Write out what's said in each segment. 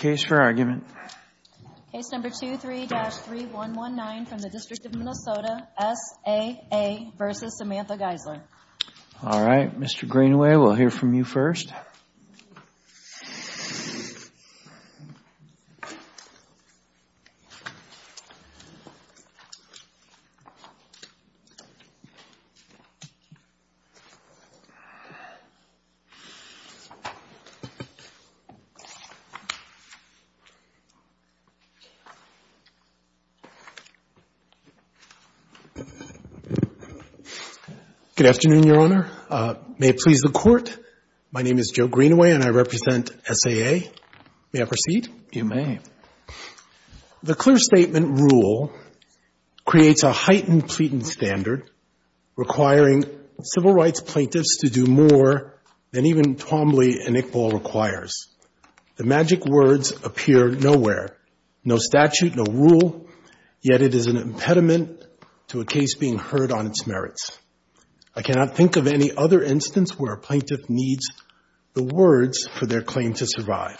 All right, Mr. Greenaway, we'll hear from you first. Good afternoon, Your Honor. May it please the Court, my name is Joe Greenaway and I represent S.A.A. May I proceed? You may. The clear statement rule creates a heightened pleading standard requiring civil rights plaintiffs to do more than even Twombly and Iqbal requires. The magic words appear nowhere, no statute, no rule, yet it is an impediment to a case being heard on its merits. I cannot think of any other instance where a plaintiff needs the words for their claim to survive.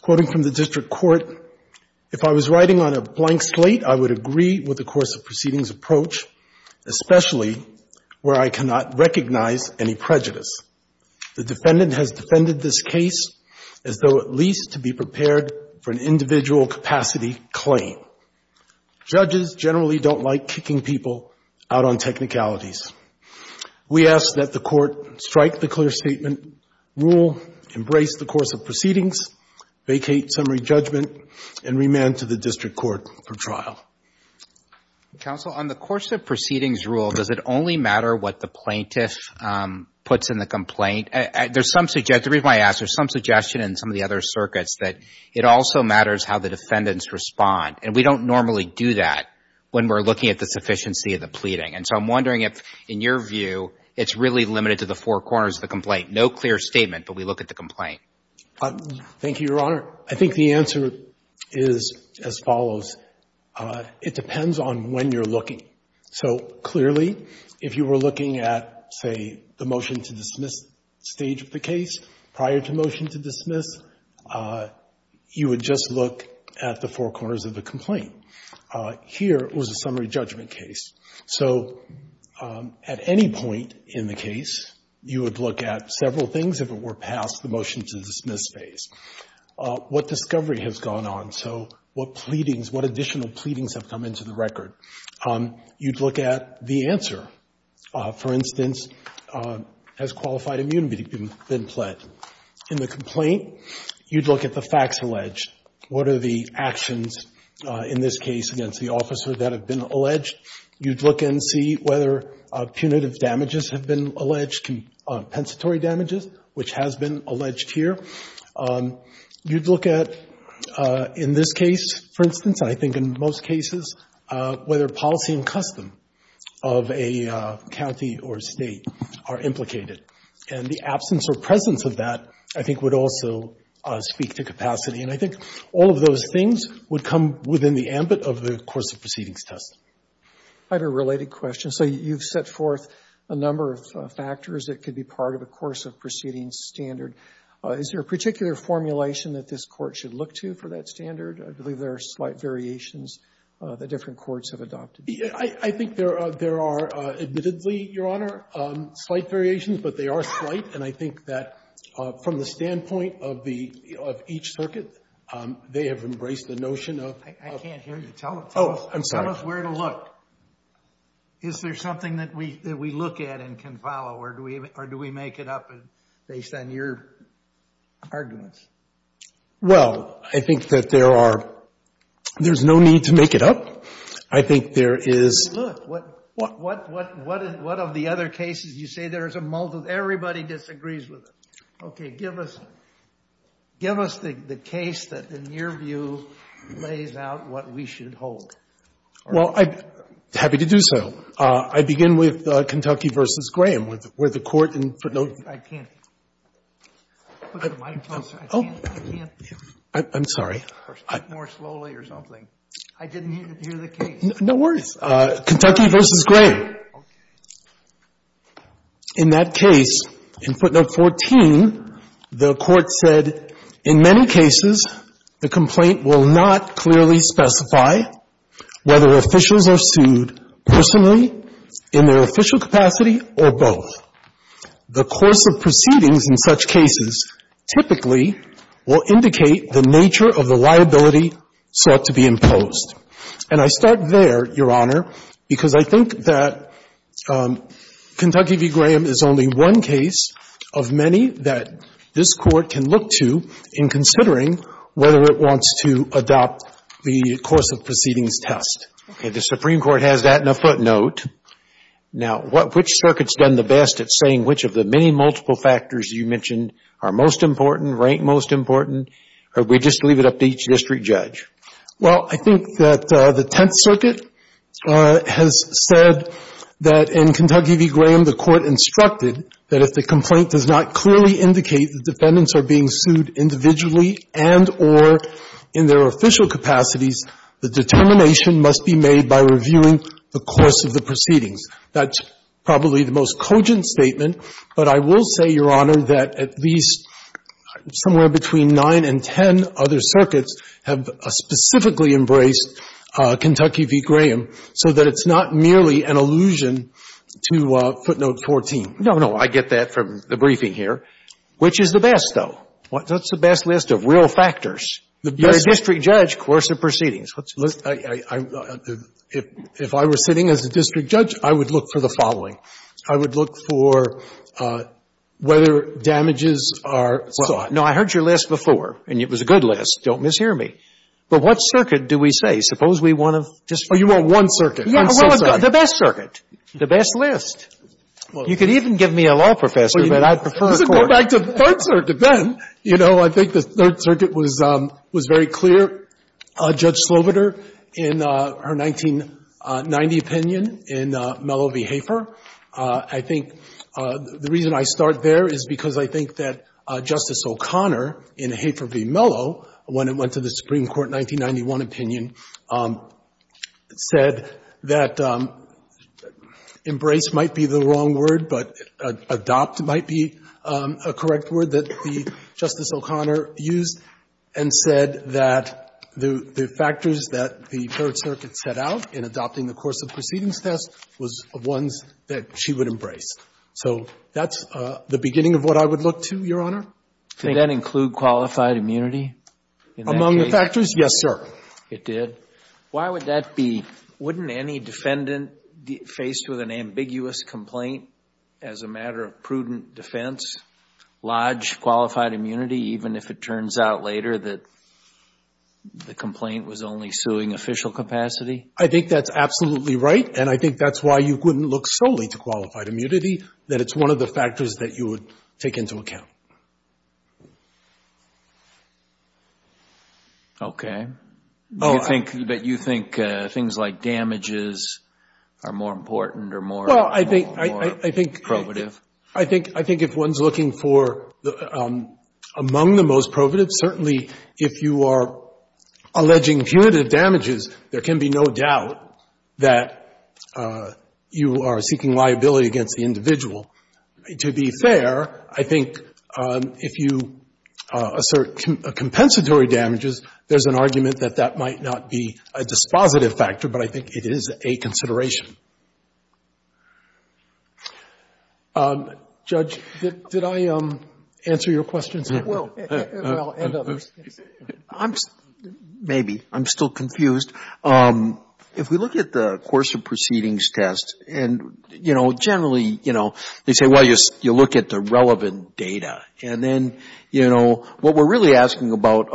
Quoting from the district court, if I was writing on a blank slate, I would agree with the course of proceedings approach, especially where I cannot recognize any prejudice. The defendant has defended this case as though at least to be prepared for an individual capacity claim. Judges generally don't like kicking people out on technicalities. We ask that the Court strike the clear statement rule, embrace the course of proceedings, vacate summary judgment and remand to the district court for trial. Counsel, on the course of proceedings rule, does it only matter what the plaintiff puts in the complaint? There's some suggestion, the reason I ask, there's some suggestion in some of the other circuits that it also matters how the defendants respond. And we don't normally do that when we're looking at the sufficiency of the pleading. And so I'm wondering if, in your view, it's really limited to the four corners of the complaint. No clear statement, but we look at the complaint. Thank you, Your Honor. I think the answer is as follows. It depends on when you're looking. So, clearly, if you were looking at, say, the motion to dismiss stage of the case prior to motion to dismiss, you would just look at the four corners of the complaint. Here was a summary judgment case. So at any point in the case, you would look at several things if it were past the motion to dismiss phase. What discovery has gone on? So what pleadings, what additional pleadings have come into the record? You'd look at the answer. For instance, has qualified immunity been pledged? In the complaint, you'd look at the facts alleged. What are the actions in this case against the officer that have been alleged? You'd look and see whether punitive damages have been alleged, compensatory damages, which has been alleged here. You'd look at, in this case, for instance, and I think in most cases, whether policy and custom of a defendant in a county or state are implicated. And the absence or presence of that, I think, would also speak to capacity. And I think all of those things would come within the ambit of the course of proceedings test. I have a related question. So you've set forth a number of factors that could be part of a course of proceedings standard. Is there a particular formulation that this Court should look to for that standard? I believe there are slight variations that different courts have adopted. I think there are, admittedly, Your Honor, slight variations, but they are slight. And I think that from the standpoint of the — of each circuit, they have embraced the notion of — I can't hear you. Tell us where to look. Is there something that we look at and can follow, or do we make it up based on your arguments? Well, I think that there are — there's no need to make it up. I think there is — Look, what — what — what — what of the other cases you say there is a — everybody disagrees with it. Okay. Give us — give us the case that, in your view, lays out what we should hold. Well, I'm happy to do so. I begin with Kentucky v. Graham, where the Court in — I can't. Put the mic closer. I can't. I'm sorry. Speak more slowly or something. I didn't hear the case. No worries. Kentucky v. Graham. Okay. In that case, in footnote 14, the Court said, In many cases, the complaint will not clearly specify whether officials are sued personally, in their official capacity, or both. The course of proceedings in such cases typically will indicate the nature of the liability sought to be imposed. And I start there, Your Honor, because I think that Kentucky v. Graham is only one case of many that this Court can look to in considering whether it wants to adopt the course of proceedings test. Okay. The Supreme Court has that in a footnote. Now, which circuit's done the best at saying which of the many multiple factors you mentioned are most important, rank most important? Or we just leave it up to each district judge? Well, I think that the Tenth Circuit has said that in Kentucky v. Graham, the Court instructed that if the complaint does not clearly indicate that defendants are being sued individually and or in their official capacities, the determination must be made by reviewing the course of the proceedings. That's probably the most cogent statement, but I will say, Your Honor, that at least somewhere between 9 and 10 other circuits have specifically embraced Kentucky v. Graham so that it's not merely an allusion to footnote 14. No, no. I get that from the briefing here. Which is the best, though? What's the best list of real factors? You're a district judge. You're a district judge, course of proceedings. If I were sitting as a district judge, I would look for the following. I would look for whether damages are sought. No, I heard your list before, and it was a good list. Don't mishear me. But what circuit do we say? Suppose we want to just say. Oh, you want one circuit. One circuit. The best circuit. The best list. You could even give me a law professor, but I'd prefer a court. Well, let's go back to the third circuit then. You know, I think the third circuit was very clear. Judge Slobodur, in her 1990 opinion in Mello v. Hafer, I think the reason I start there is because I think that Justice O'Connor in Hafer v. Mello, when it went to the Supreme Court 1991 opinion, said that embrace might be the wrong word, but adopt might be a correct word that Justice O'Connor used and said that the factors that the third circuit set out in adopting the course of proceedings test was ones that she would embrace. So that's the beginning of what I would look to, Your Honor. Could that include qualified immunity? Among the factors? Yes, sir. It did? Why would that be? Wouldn't any defendant faced with an ambiguous complaint as a matter of prudent defense lodge qualified immunity even if it turns out later that the complaint was only suing official capacity? I think that's absolutely right, and I think that's why you couldn't look solely to qualified immunity, that it's one of the factors that you would take into account. Okay. Do you think that you think things like damages are more important or more probative? Well, I think if one's looking for among the most probative, certainly if you are alleging punitive damages, there can be no doubt that you are seeking liability against the individual. To be fair, I think if you assert compensatory damages, there's an argument that that might not be a dispositive factor, but I think it is a consideration. Judge, did I answer your questions? Well, and others. Maybe. I'm still confused. If we look at the course of proceedings test, and generally they say, well, you look at the relevant data. And then what we're really asking about,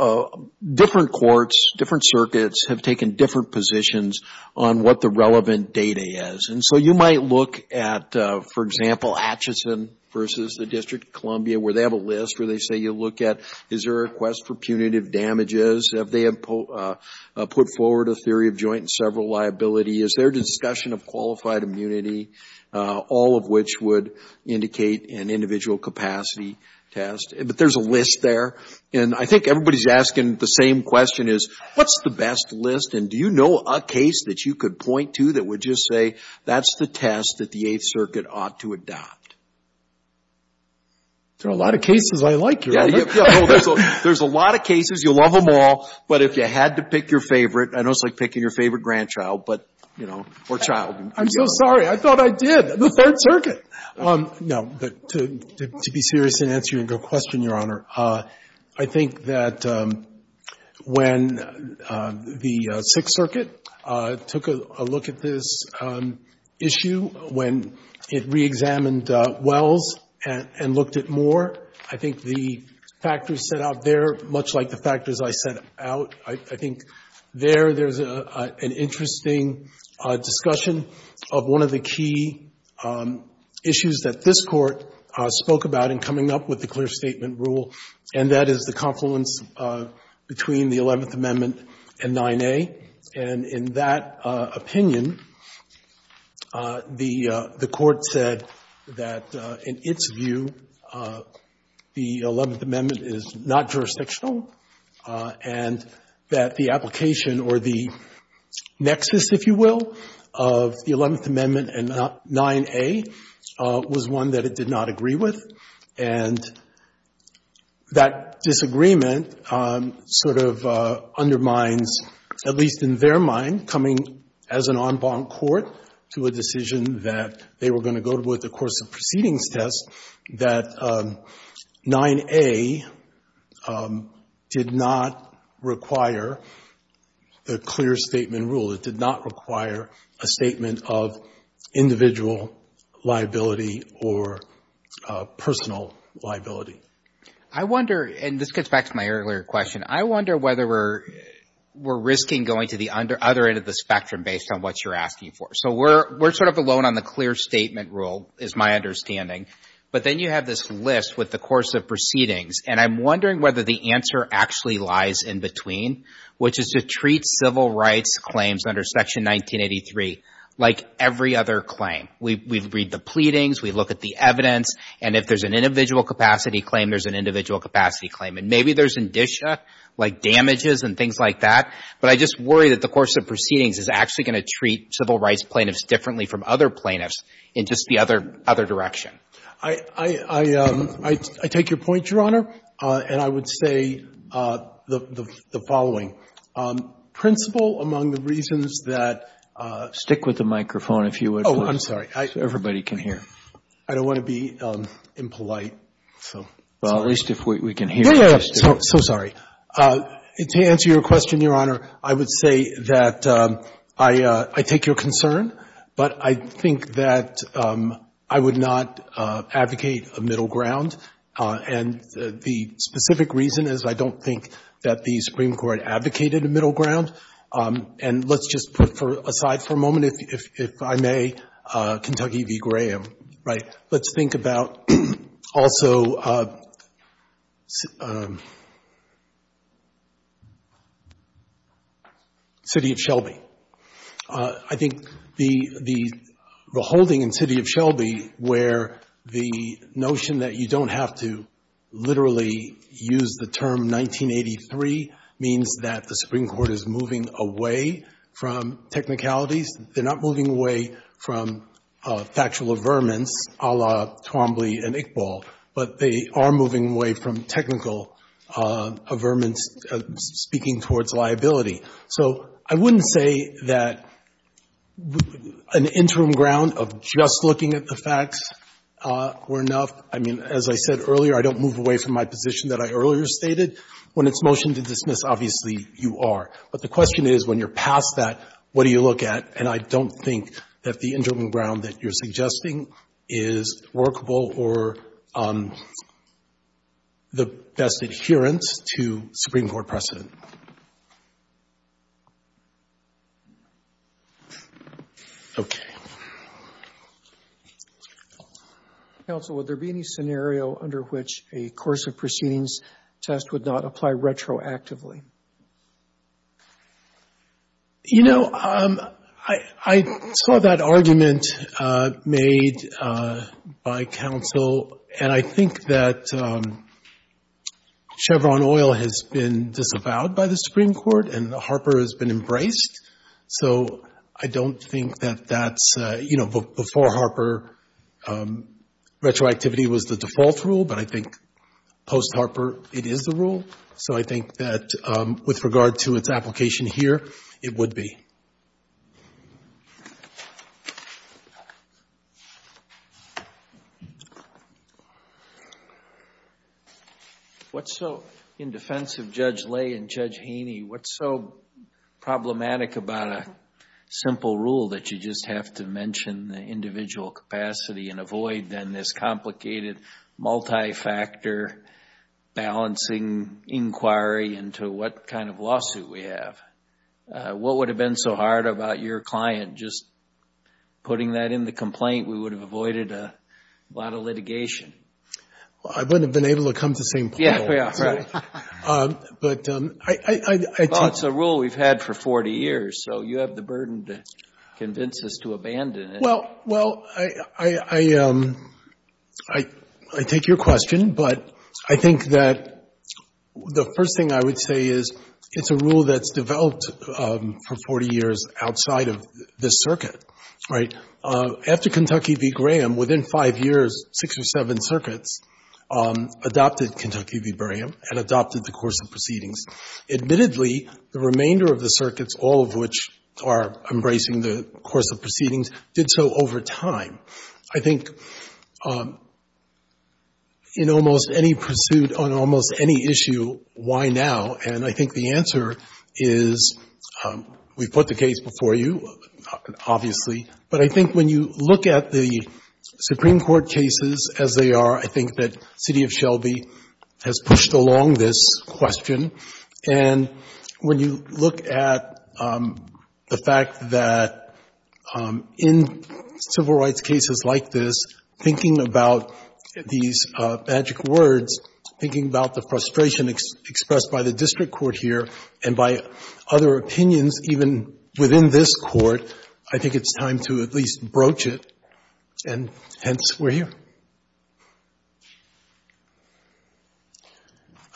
different courts, different circuits have taken different positions on what the relevant data is. And so you might look at, for example, Atchison versus the District of Columbia where they have a list where they say you look at is there a request for punitive theory of joint and several liability? Is there a discussion of qualified immunity? All of which would indicate an individual capacity test. But there's a list there. And I think everybody's asking the same question is, what's the best list? And do you know a case that you could point to that would just say that's the test that the Eighth Circuit ought to adopt? There are a lot of cases I like here. There's a lot of cases. You'll love them all. But if you had to pick your favorite, I know it's like picking your favorite grandchild, but, you know, or child. I'm so sorry. I thought I did. The Third Circuit. No. But to be serious and answer your question, Your Honor, I think that when the Sixth Circuit took a look at this issue, when it reexamined Wells and looked at Moore, I think the factors set out there, much like the factors I set out, I think there there's an interesting discussion of one of the key issues that this Court spoke about in coming up with the clear statement rule, and that is the confluence between the Eleventh Amendment and 9A. And in that opinion, the Court said that in its view, the Eleventh Amendment is not jurisdictional and that the application or the nexus, if you will, of the Eleventh Amendment and 9A was one that it did not agree with. And that disagreement sort of undermines, at least in their mind, coming as an en banc court to a decision that they were going to go to with the course of proceedings test, that 9A did not require the clear statement rule. It did not require a statement of individual liability or personal liability. I wonder, and this gets back to my earlier question, I wonder whether we're risking going to the other end of the spectrum based on what you're asking for. So we're sort of alone on the clear statement rule, is my understanding. But then you have this list with the course of proceedings, and I'm wondering whether the answer actually lies in between, which is to treat civil rights claims under Section 1983 like every other claim. We read the pleadings, we look at the evidence, and if there's an individual capacity claim, there's an individual capacity claim. And maybe there's indicia, like damages and things like that, but I just worry that the course of proceedings is actually going to treat civil rights plaintiffs differently from other plaintiffs in just the other direction. I take your point, Your Honor, and I would say the following. Principal, among the reasons that ---- Stick with the microphone, if you would. Oh, I'm sorry. So everybody can hear. I don't want to be impolite, so. Well, at least if we can hear you. Yeah, yeah, so sorry. To answer your question, Your Honor, I would say that I take your concern, but I think that I would not advocate a middle ground, and the specific reason is I don't think that the Supreme Court advocated a middle ground. And let's just put aside for a moment, if I may, Kentucky v. Graham, right? Let's think about also City of Shelby. I think the holding in City of Shelby where the notion that you don't have to literally use the term 1983 means that the Supreme Court is moving away from technicalities. They're not moving away from factual averments a la Twombly and Iqbal, but they are moving away from technical averments speaking towards liability. So I wouldn't say that an interim ground of just looking at the facts were enough. I mean, as I said earlier, I don't move away from my position that I earlier stated. When it's motion to dismiss, obviously you are. But the question is, when you're past that, what do you look at? And I don't think that the interim ground that you're suggesting is workable or the best adherence to Supreme Court precedent. Okay. Counsel, would there be any scenario under which a course of proceedings test would not apply retroactively? You know, I saw that argument made by counsel and I think that Chevron Oil has been disavowed by the Supreme Court and Harper has been embraced. So I don't think that that's, you know, before Harper retroactivity was the default rule, but I think post-Harper it is the rule. So I think that with regard to its application here, it would be. What's so in defense of Judge Lay and Judge Haney, what's so problematic about a simple rule that you just have to mention the individual capacity and avoid then this complicated multi-factor balancing inquiry into what kind of lawsuit we have? What would have been so hard about your client just putting that in the complaint? We would have avoided a lot of litigation. I wouldn't have been able to come to the same point. Yeah, right. But I think. Well, it's a rule we've had for 40 years. So you have the burden to convince us to abandon it. Well, well, I, I, I, I take your question, but I think that the first thing I would say is it's a rule that's developed for 40 years outside of this circuit, right? After Kentucky v. Graham, within five years, six or seven circuits adopted Kentucky v. Graham and adopted the course of proceedings. Admittedly, the remainder of the circuits, all of which are embracing the course of proceedings, did so over time. I think in almost any pursuit on almost any issue, why now? And I think the answer is we put the case before you, obviously. But I think when you look at the Supreme Court cases as they are, I think that city of Shelby has pushed along this question. And when you look at the fact that in civil rights cases like this, thinking about these magic words, thinking about the frustration expressed by the district court here and by other opinions, even within this court, I think it's time to at least broach it. And hence, we're here. Thank you.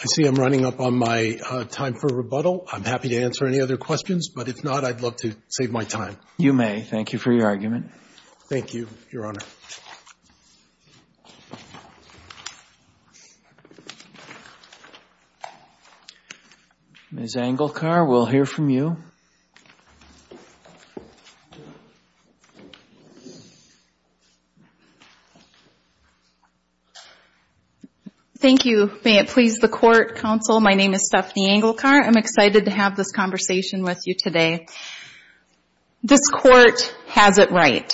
I see I'm running up on my time for rebuttal. I'm happy to answer any other questions, but if not, I'd love to save my time. You may. Thank you for your argument. Thank you, Your Honor. Ms. Engelkar, we'll hear from you. Thank you. May it please the court, counsel. My name is Stephanie Engelkar. I'm excited to have this conversation with you today. This court has it right.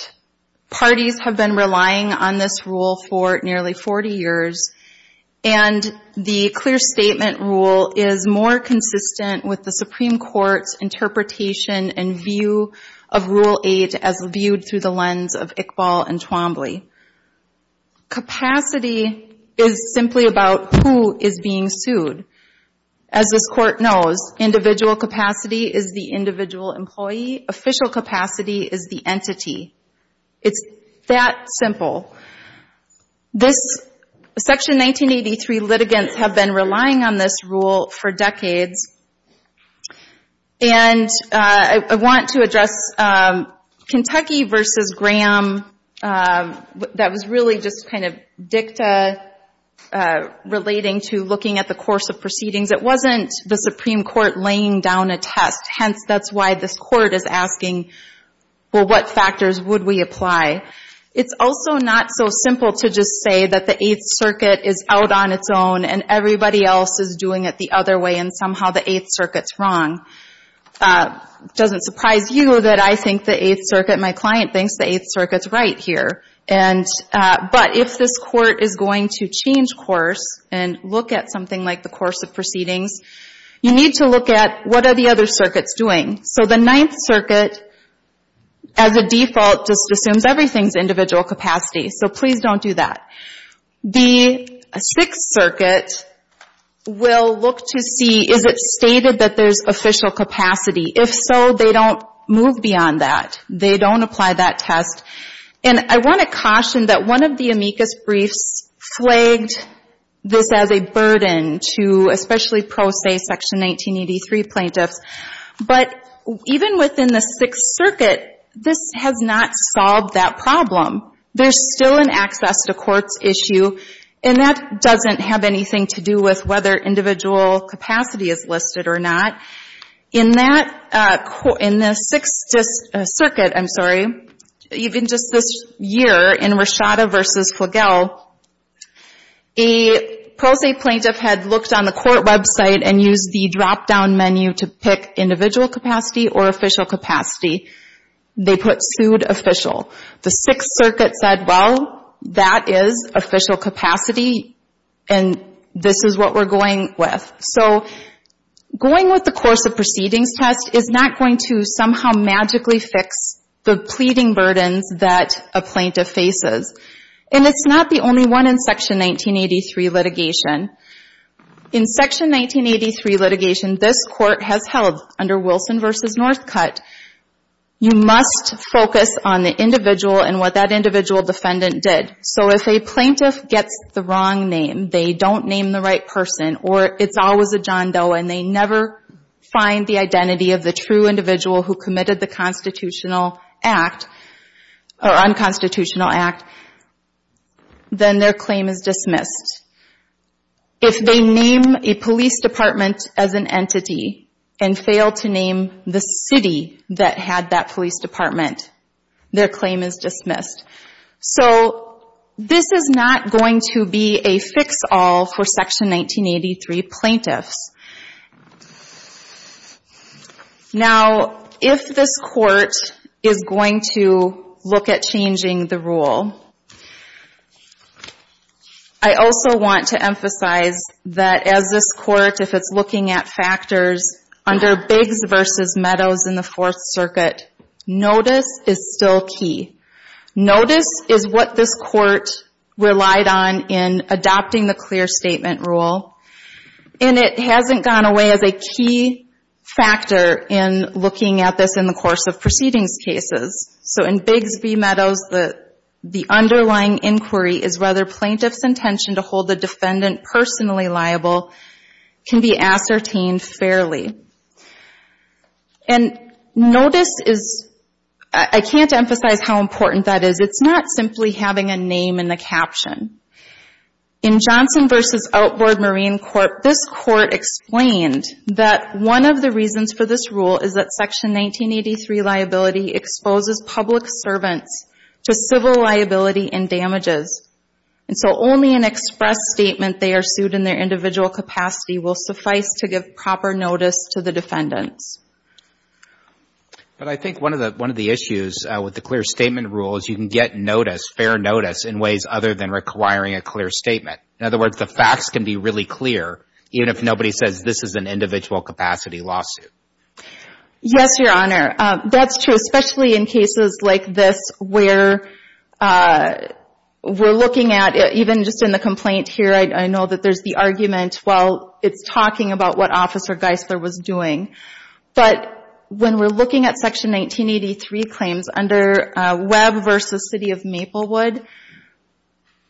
Parties have been relying on this rule for nearly 40 years, and the clear statement rule is more consistent with the Supreme Court's interpretation and view of Rule 8 as viewed through the lens of Iqbal and Twombly. Capacity is simply about who is being sued. As this court knows, individual capacity is the individual employee. Official capacity is the entity. It's that simple. Section 1983 litigants have been relying on this rule for decades, and I want to address Kentucky v. Graham. That was really just kind of dicta relating to looking at the course of proceedings. It wasn't the Supreme Court laying down a test, hence that's why this court is asking, well, what factors would we apply? It's also not so simple to just say that the Eighth Circuit is out on its own and everybody else is doing it the other way and somehow the Eighth Circuit's wrong. It doesn't surprise you that I think the Eighth Circuit, my client thinks the Eighth Circuit's right here, but if this court is going to change course and look at something like the course of proceedings, you need to look at what are the other circuits doing. So the Ninth Circuit, as a default, just assumes everything's individual capacity, so please don't do that. The Sixth Circuit will look to see is it stated that there's official capacity? If so, they don't move beyond that. They don't apply that test, and I want to caution that one of the amicus briefs flagged this as a burden to especially pro se Section 1983 plaintiffs, but even within the Sixth Circuit, this has not solved that problem. There's still an access to courts issue, and that doesn't have anything to do with whether individual capacity is listed or not. In the Sixth Circuit, I'm sorry, even just this year in Roshada v. Flagel, a pro se plaintiff had looked on the court website and used the drop-down menu to pick individual capacity or official capacity. They put sued official. The Sixth Circuit said, well, that is official capacity, and this is what we're going with. So going with the course of proceedings test is not going to somehow magically fix the burdens that a plaintiff faces, and it's not the only one in Section 1983 litigation. In Section 1983 litigation, this court has held under Wilson v. Northcutt, you must focus on the individual and what that individual defendant did. So if a plaintiff gets the wrong name, they don't name the right person, or it's always a John Doe, and they never find the identity of the true individual who committed the unconstitutional act, then their claim is dismissed. If they name a police department as an entity and fail to name the city that had that police department, their claim is dismissed. So this is not going to be a fix-all for Section 1983 plaintiffs. Now, if this court is going to look at changing the rule, I also want to emphasize that as this court, if it's looking at factors under Biggs v. Meadows in the Fourth Circuit, notice is still key. Notice is what this court relied on in adopting the clear statement rule, and it has to be noted that this hasn't gone away as a key factor in looking at this in the course of proceedings cases. So in Biggs v. Meadows, the underlying inquiry is whether plaintiff's intention to hold the defendant personally liable can be ascertained fairly. And notice is, I can't emphasize how important that is, it's not simply having a name in the caption. In Johnson v. Outward Marine Court, this court explained that one of the reasons for this rule is that Section 1983 liability exposes public servants to civil liability and damages, and so only an express statement they are sued in their individual capacity will suffice to give proper notice to the defendants. But I think one of the issues with the clear statement rule is you can get notice, fair notice, in ways other than requiring a clear statement. In other words, the facts can be really clear, even if nobody says this is an individual capacity lawsuit. Yes, Your Honor. That's true, especially in cases like this where we're looking at, even just in the complaint here, I know that there's the argument, well, it's talking about what Officer Geisler was doing. But when we're looking at Section 1983 claims under Webb v. City of Maplewood,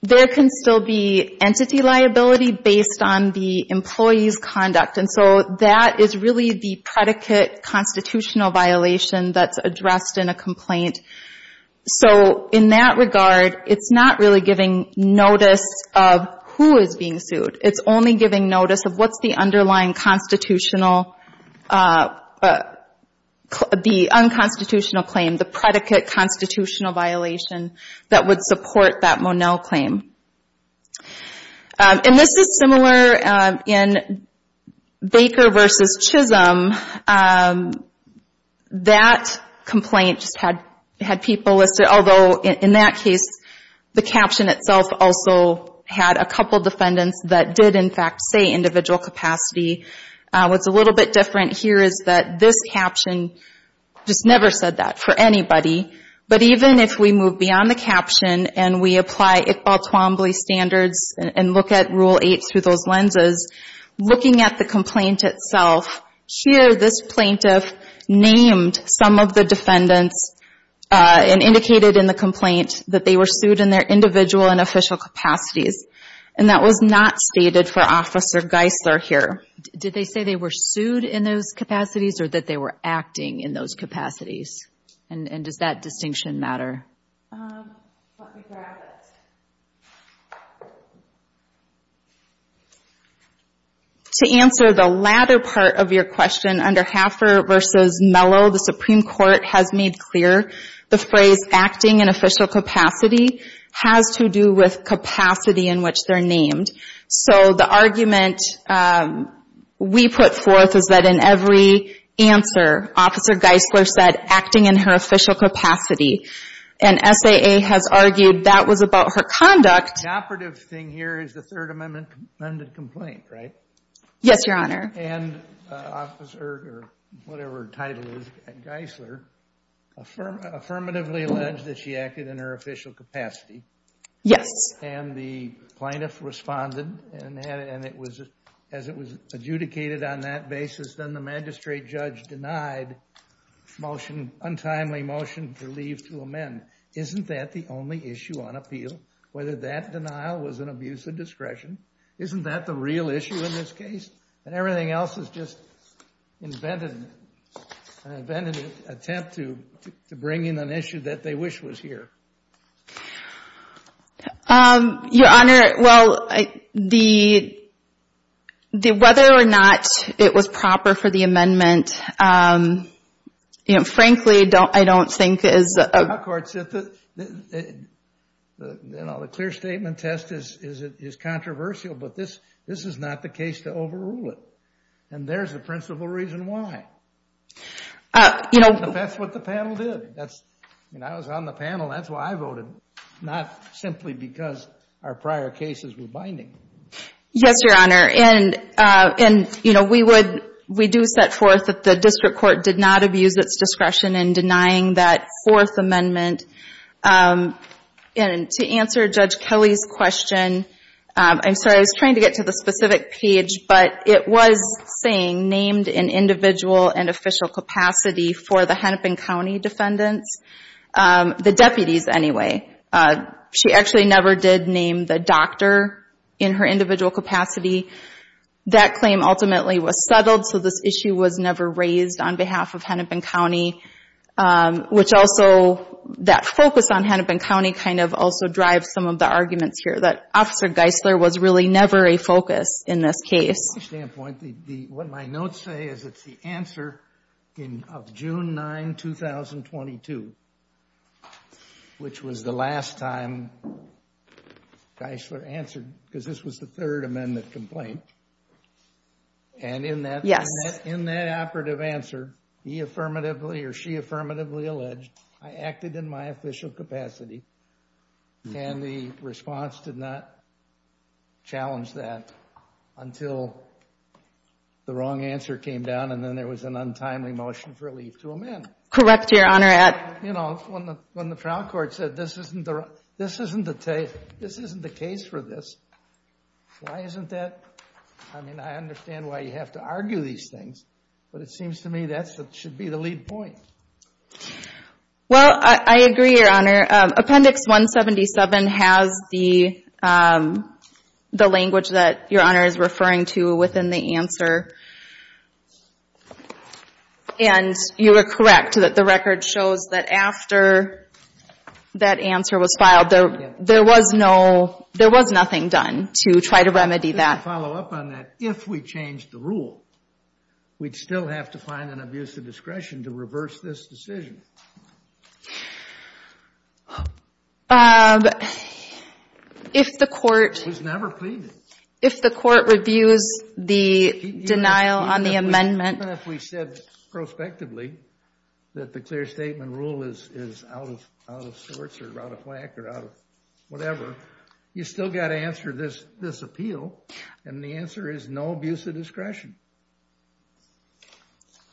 there can still be entity liability based on the employee's conduct. And so that is really the predicate constitutional violation that's addressed in a complaint. So in that regard, it's not really giving notice of who is being sued. It's only giving notice of what's the underlying constitutional, the unconstitutional claim, the predicate constitutional violation that would support that Monell claim. And this is similar in Baker v. Chisholm. That complaint just had people listed, although in that case, the caption itself also had a couple defendants that did, in fact, say individual capacity. What's a little bit different here is that this caption just never said that for anybody. But even if we move beyond the caption and we apply Iqbal-Twombly standards and look at Rule 8 through those lenses, looking at the complaint itself, here this plaintiff named some of the defendants and indicated in the complaint that they were sued in their individual and official capacities. And that was not stated for Officer Geisler here. Did they say they were sued in those capacities or that they were acting in those capacities? And does that distinction matter? To answer the latter part of your question, under Hafer v. Mello, the Supreme Court has made clear the phrase acting in official capacity has to do with capacity in which they're named. So the argument we put forth is that in every answer, Officer Geisler said acting in her official capacity. And SAA has argued that was about her conduct. The operative thing here is the Third Amendment-amended complaint, right? Yes, Your Honor. And Officer Geisler affirmatively alleged that she acted in her official capacity. Yes. And the plaintiff responded and as it was adjudicated on that basis, then the magistrate judge denied motion, untimely motion to leave to amend. Isn't that the only issue on appeal? Whether that denial was an abuse of discretion? Isn't that the real issue in this case? And everything else is just an invented attempt to bring in an issue that they wish was here. Your Honor, well, whether or not it was proper for the amendment, frankly, I don't think is... The clear statement test is controversial, but this is not the case to overrule it. And there's the principal reason why. That's what the panel did. I was on the panel. That's why I voted, not simply because our prior cases were binding. Yes, Your Honor. And we do set forth that the District Court did not abuse its discretion in denying that fourth amendment. And to answer Judge Kelly's question, I'm sorry. I was trying to get to the specific page, but it was saying named in individual and official capacity for the Hennepin County defendants, the deputies anyway. She actually never did name the doctor in her individual capacity. That claim ultimately was settled, so this issue was never raised on behalf of Hennepin County, which also, that focus on Hennepin County kind of also drives some of the arguments here, that Officer Geisler was really never a focus in this case. From my standpoint, what my notes say is it's the answer of June 9, 2022, which was the last time Geisler answered, because this was the third amendment complaint. And in that operative answer, he affirmatively or she affirmatively alleged, I acted in my official capacity, and the response did not challenge that until the wrong answer came down, and then there was an untimely motion for a leave to amend. Correct, Your Honor. When the trial court said, this isn't the case for this, why isn't that? I mean, I understand why you have to argue these things, but it seems to me that should be the lead point. Well, I agree, Your Honor. Appendix 177 has the language that Your Honor is referring to within the answer, and you are correct that the record shows that after that answer was filed, there was nothing done to try to remedy that. Just to follow up on that, if we changed the rule, we'd still have to find an abuse of discretion to reverse this decision. It was never pleaded. If the court reviews the denial on the amendment... Even if we said prospectively that the clear statement rule is out of sorts or out of whack or out of whatever, you still got to answer this appeal, and the answer is no abuse of discretion.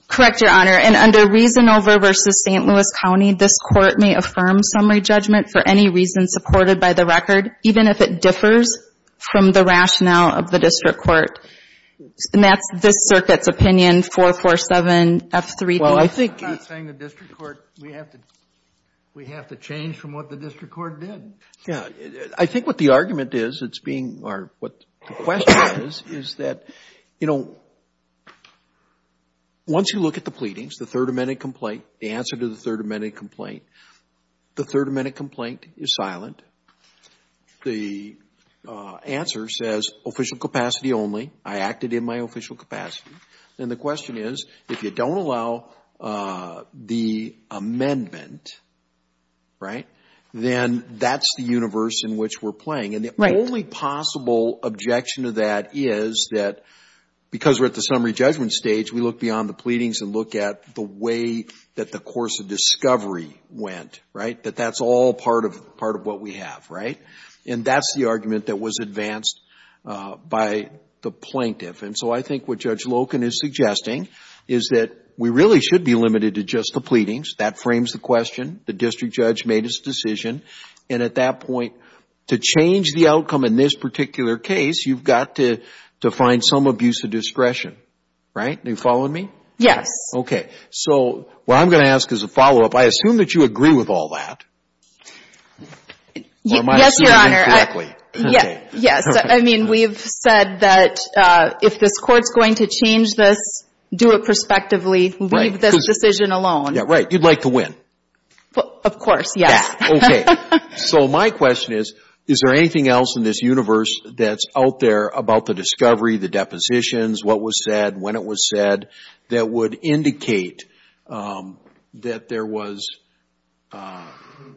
Correct, Your Honor. And under reason over versus St. Louis County, this court may affirm summary judgment for any reason supported by the record, even if it differs from the rationale of the district court. And that's this circuit's opinion, 447F3B. I'm not saying the district court, we have to change from what the district court did. I think what the argument is, or what the question is, is that, you know, once you look at the pleadings, the Third Amendment complaint, the answer to the Third Amendment complaint, the Third Amendment complaint is silent. The answer says official capacity only, I acted in my official capacity. And the question is, if you don't allow the amendment, right, then that's the universe in which we're playing. And the only possible objection to that is that because we're at the summary judgment stage, we look beyond the pleadings and look at the way that the course of discovery went, right? That that's all part of what we have, right? And that's the argument that was advanced by the plaintiff. And so I think what Judge Loken is suggesting is that we really should be limited to just the pleadings. That frames the question. The district judge made his decision. And at that point, to change the outcome in this particular case, you've got to find some abuse of discretion, right? Are you following me? Yes. Okay. So what I'm going to ask as a follow-up, I assume that you agree with all that. Yes, Your Honor. I mean, we've said that if this court's going to change this, do it prospectively, leave this decision alone. Yeah, right. You'd like to win. Of course, yes. So my question is, is there anything else in this universe that's out there about the discovery, the depositions, what was said, when it was said, that would indicate that there was an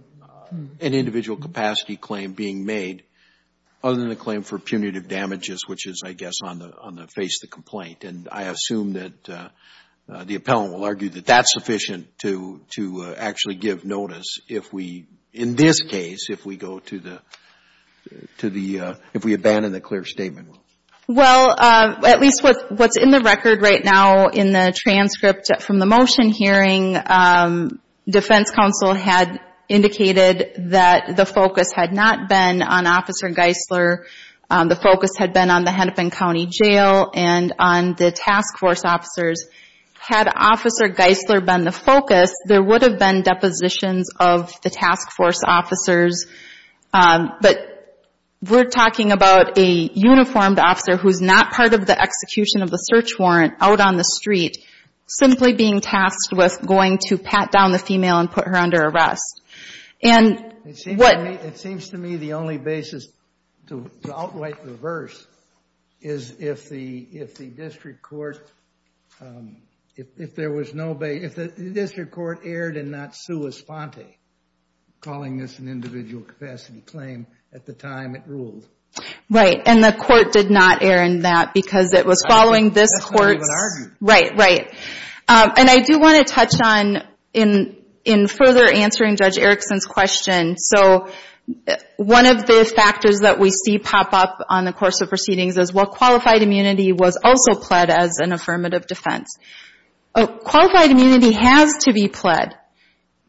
individual capacity claim being made, other than the claim for punitive damages, which is, I guess, on the face of the complaint. And I assume that the appellant will argue that that's sufficient to actually give notice if we, in this case, if we go to the, if we abandon the clear statement. Well, at least what's in the record right now in the transcript from the motion hearing, defense counsel had indicated that the focus had not been on Officer Geisler. The focus had been on the Hennepin County Jail and on the task force officers. Had Officer Geisler been the focus, there would have been depositions of the task force officers. But we're talking about a uniformed officer who's not part of the execution of the search warrant out on the street, simply being tasked with going to pat down the female and put her under arrest. And what... It seems to me the only basis to outright reverse is if the district court, if there was no basis, if the district court erred and not sue Esponte, calling this an individual capacity claim at the time it ruled. Right, and the court did not err in that because it was following this court's... Right, right. And I do want to touch on, in further answering Judge Erickson's question, so one of the factors that we see pop up on the course of proceedings is, well, qualified immunity was also pled as an affirmative defense. Qualified immunity has to be pled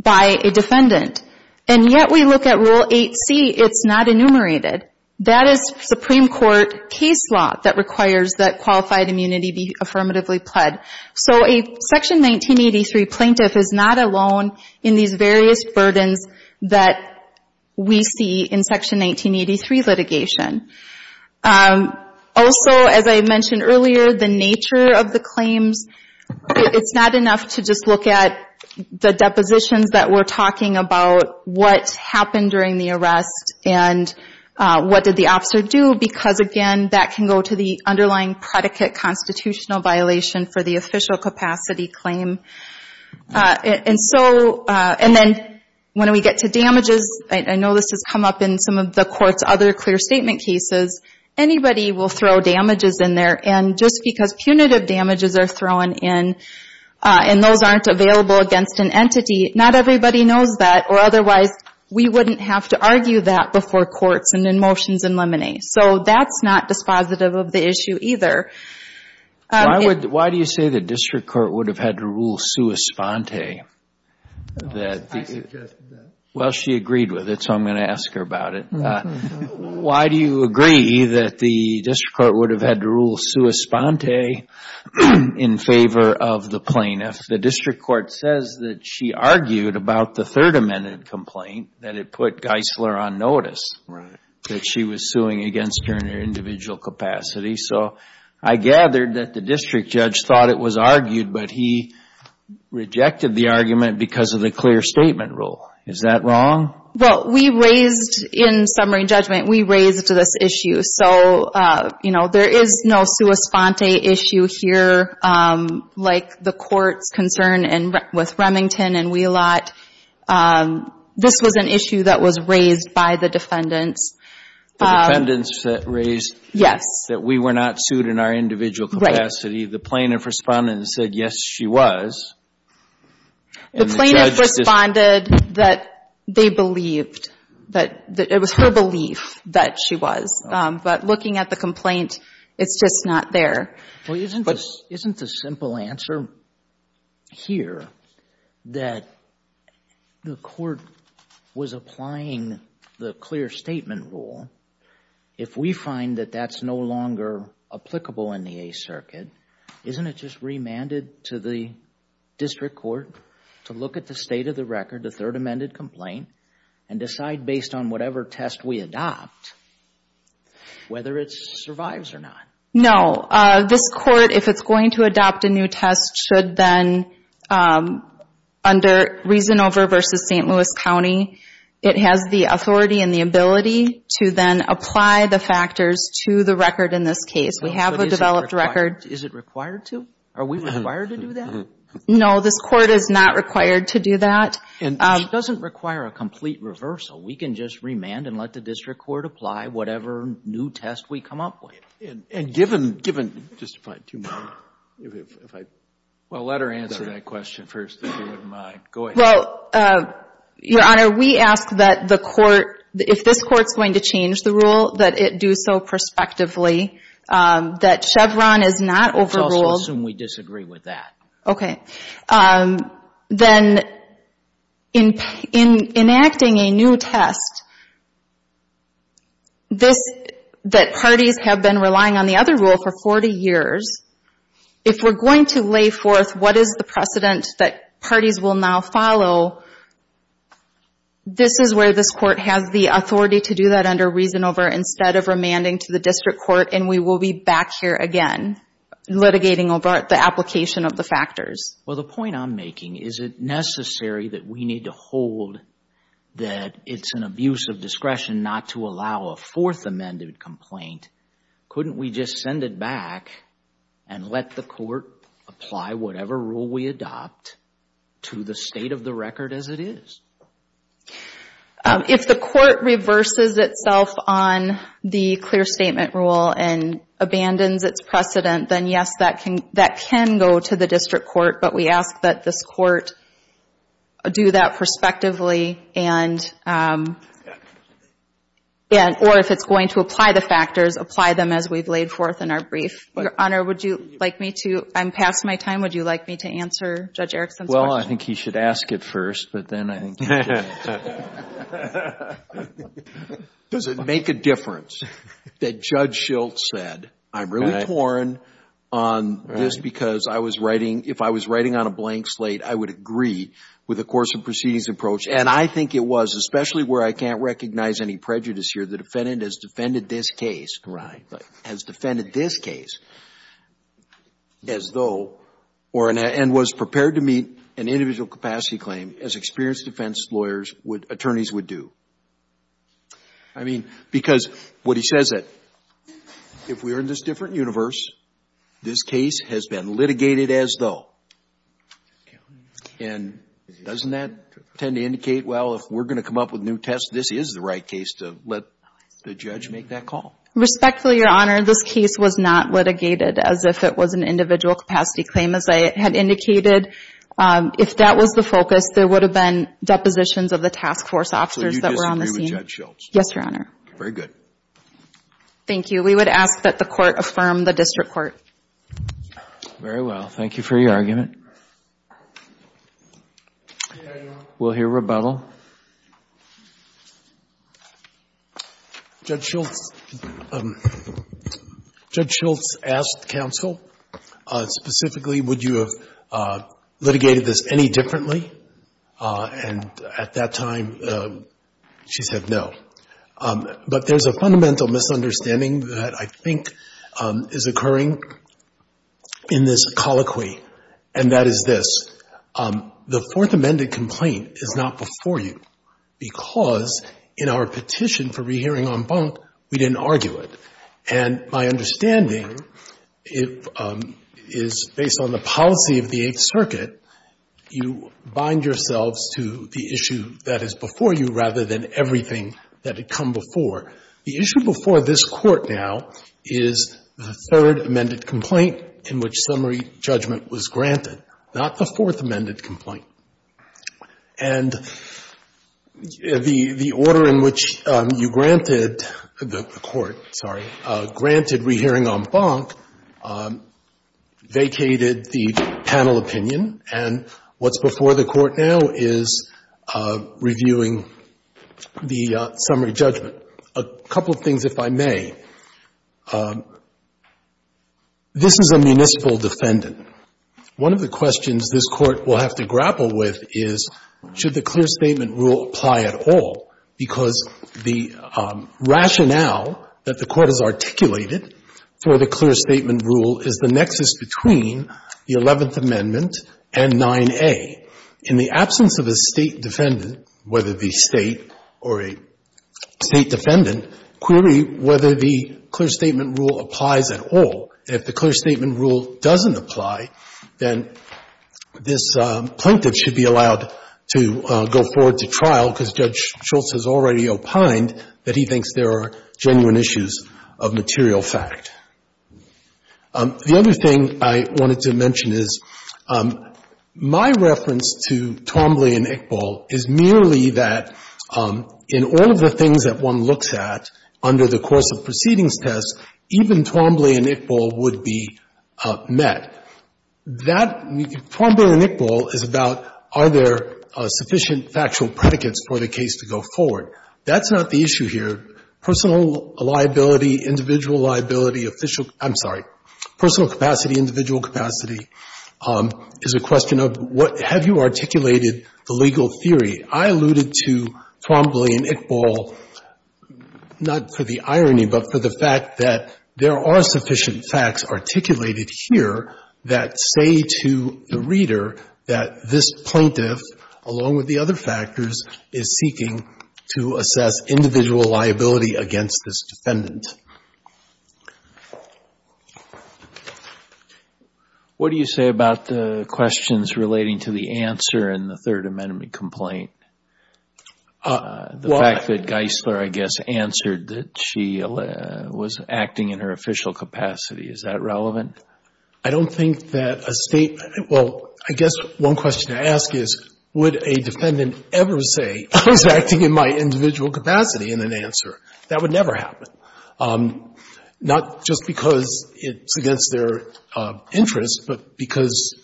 by a defendant. And yet we look at Rule 8C, it's not enumerated. That is Supreme Court case law that requires that qualified immunity be affirmatively pled. So a Section 1983 plaintiff is not alone in these various burdens that we see in Section 1983 litigation. Also, as I mentioned earlier, the nature of the claims, it's not enough to just look at the depositions that we're talking about, what happened during the arrest, and what did the officer do, because, again, that can go to the underlying predicate constitutional violation for the official capacity claim. And so, and then when we get to damages, I know this has come up in some of the court's other clear statement cases, anybody will throw damages in there, and just because punitive damages are thrown in and those aren't available against an entity, not everybody knows that, or otherwise we wouldn't have to argue that before courts and in motions and liminees. So that's not dispositive of the issue either. Why do you say the district court would have had to rule sua sponte? Well, she agreed with it, so I'm going to ask her about it. Why do you agree that the district court would have had to rule sua sponte in favor of the plaintiff? The district court says that she argued about the Third Amendment complaint that it put Geisler on notice that she was suing against her in her individual capacity. So I gathered that the district judge thought it was argued, but he rejected the argument because of the clear statement rule. Is that wrong? Well, we raised, in summary and judgment, we raised this issue. So, you know, there is no sua sponte issue here like the court's concern with Remington and Wheelot. This was an issue that was raised by the defendants. The defendants raised that we were not sued in our individual capacity. The plaintiff responded and said, yes, she was. The plaintiff responded that they believed, that it was her belief that she was. But looking at the complaint, it's just not there. Well, isn't the simple answer here that the court was applying the clear statement rule? If we find that that's no longer applicable in the Eighth Circuit, isn't it just remanded to the district court to look at the state of the record, the Third Amendment complaint, and decide based on whatever test we adopt whether it survives or not? No. This court, if it's going to adopt a new test, should then, under Reasonover v. St. Louis County, it has the authority and the ability to then apply the factors to the record in this case. We have a developed record. Is it required to? Are we required to do that? No, this court is not required to do that. It doesn't require a complete reversal. We can just remand and let the district court apply whatever new test we come up with. Well, let her answer that question first, if you wouldn't mind. Well, Your Honor, we ask that the court, if this court is going to change the rule, that it do so prospectively, that Chevron is not overruled. Let's also assume we disagree with that. Then, in enacting a new test, that parties have been relying on the other rule for 40 years, if we're going to lay forth what is the precedent that parties will now follow, this is where this court has the authority to do that under Reasonover instead of remanding to the district court, and we will be back here again, litigating over the application of the factors. Well, the point I'm making, is it necessary that we need to hold that it's an abuse of discretion not to allow a Fourth Amendment complaint? Couldn't we just send it back and let the court apply whatever rule we adopt to the state of the record as it is? If the court reverses itself on the clear statement rule and abandons its precedent, then yes, that can go to the district court, but we ask that this court do that prospectively, or if it's going to apply the factors, apply them as we've laid forth in our brief. Your Honor, I'm past my time. Would you like me to answer Judge Erickson's question? Well, I think he should ask it first, but then I think you can answer it. Does it make a difference that Judge Schilt said, I'm really torn on this because if I was writing on a blank slate, I would agree with the course of proceedings approach, and I think it was, especially where I can't recognize any prejudice here, the defendant has defended this case. Right. And was prepared to meet an individual capacity claim, as experienced defense lawyers, attorneys would do. I mean, because what he says is, if we are in this different universe, this case has been litigated as though. And doesn't that tend to indicate, well, if we're going to come up with new tests, this is the right case to let the judge make that call? Respectfully, Your Honor, this case was not litigated as if it was an individual capacity claim, as I had indicated. If that was the focus, there would have been depositions of the task force officers that were on the scene. Thank you. We would ask that the court affirm the district court. Very well. Thank you for your argument. We'll hear rebuttal. Judge Schilt asked counsel, specifically, would you have litigated this any differently? And at that time, she said no. But there's a fundamental misunderstanding that I think is occurring in this colloquy, and that is this. The Fourth Amendment complaint is not before you, because in our petition for rehearing en banc, we didn't argue it. And my understanding is, based on the policy of the Eighth Circuit, you would have litigated this differently. You bind yourselves to the issue that is before you rather than everything that had come before. The issue before this Court now is the Third Amended complaint in which summary judgment was granted, not the Fourth Amended complaint. And the order in which you granted the Court, sorry, granted rehearing en banc vacated the panel opinion, and what's before the Court now is reviewing the summary judgment. A couple of things, if I may. This is a municipal defendant. One of the questions this Court will have to grapple with is, should the clear statement rule apply at all, because the rationale that the Court has articulated for the clear statement rule is the nexus between the Eleventh Amendment and 9A. In the absence of a State defendant, whether the State or a State defendant, clearly whether the clear statement rule applies at all. If the clear statement rule doesn't apply, then this plaintiff should be allowed to go forward to trial, because Judge Schultz has already opined that he thinks there are genuine issues of material fact. The other thing I wanted to mention is my reference to Twombly and Iqbal is merely that in all of the things that one looks at under the course of proceedings tests, even Twombly and Iqbal would be met. That, Twombly and Iqbal is about are there sufficient factual predicates for the case to go forward. That's not the issue here. Personal liability, individual liability, official, I'm sorry, personal capacity, individual capacity is a question of have you articulated the legal theory. I alluded to Twombly and Iqbal not for the irony, but for the fact that there are sufficient facts articulated here that say to the reader that this plaintiff, along with the other factors, is seeking to assess individual liability against this defendant. What do you say about the questions relating to the answer in the Third Amendment complaint? The fact that Geisler, I guess, answered that she was acting in her official capacity, is that relevant? I don't think that a State — well, I guess one question to ask is would a defendant ever say I was acting in my individual capacity in an answer? That would never happen. Not just because it's against their interest, but because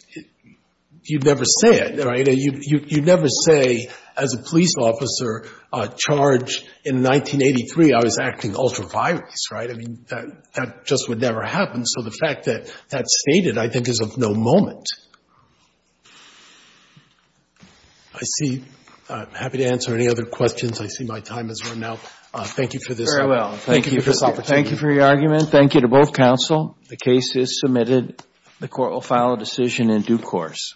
you'd never say it, right? You'd never say as a police officer charged in 1983 I was acting ultra-virally. Right? I mean, that just would never happen. So the fact that that's stated I think is of no moment. I'm happy to answer any other questions. I see my time has run out. Thank you for this opportunity. Thank you for your argument. Thank you to both counsel. The case is submitted. The Court will file a decision in due course.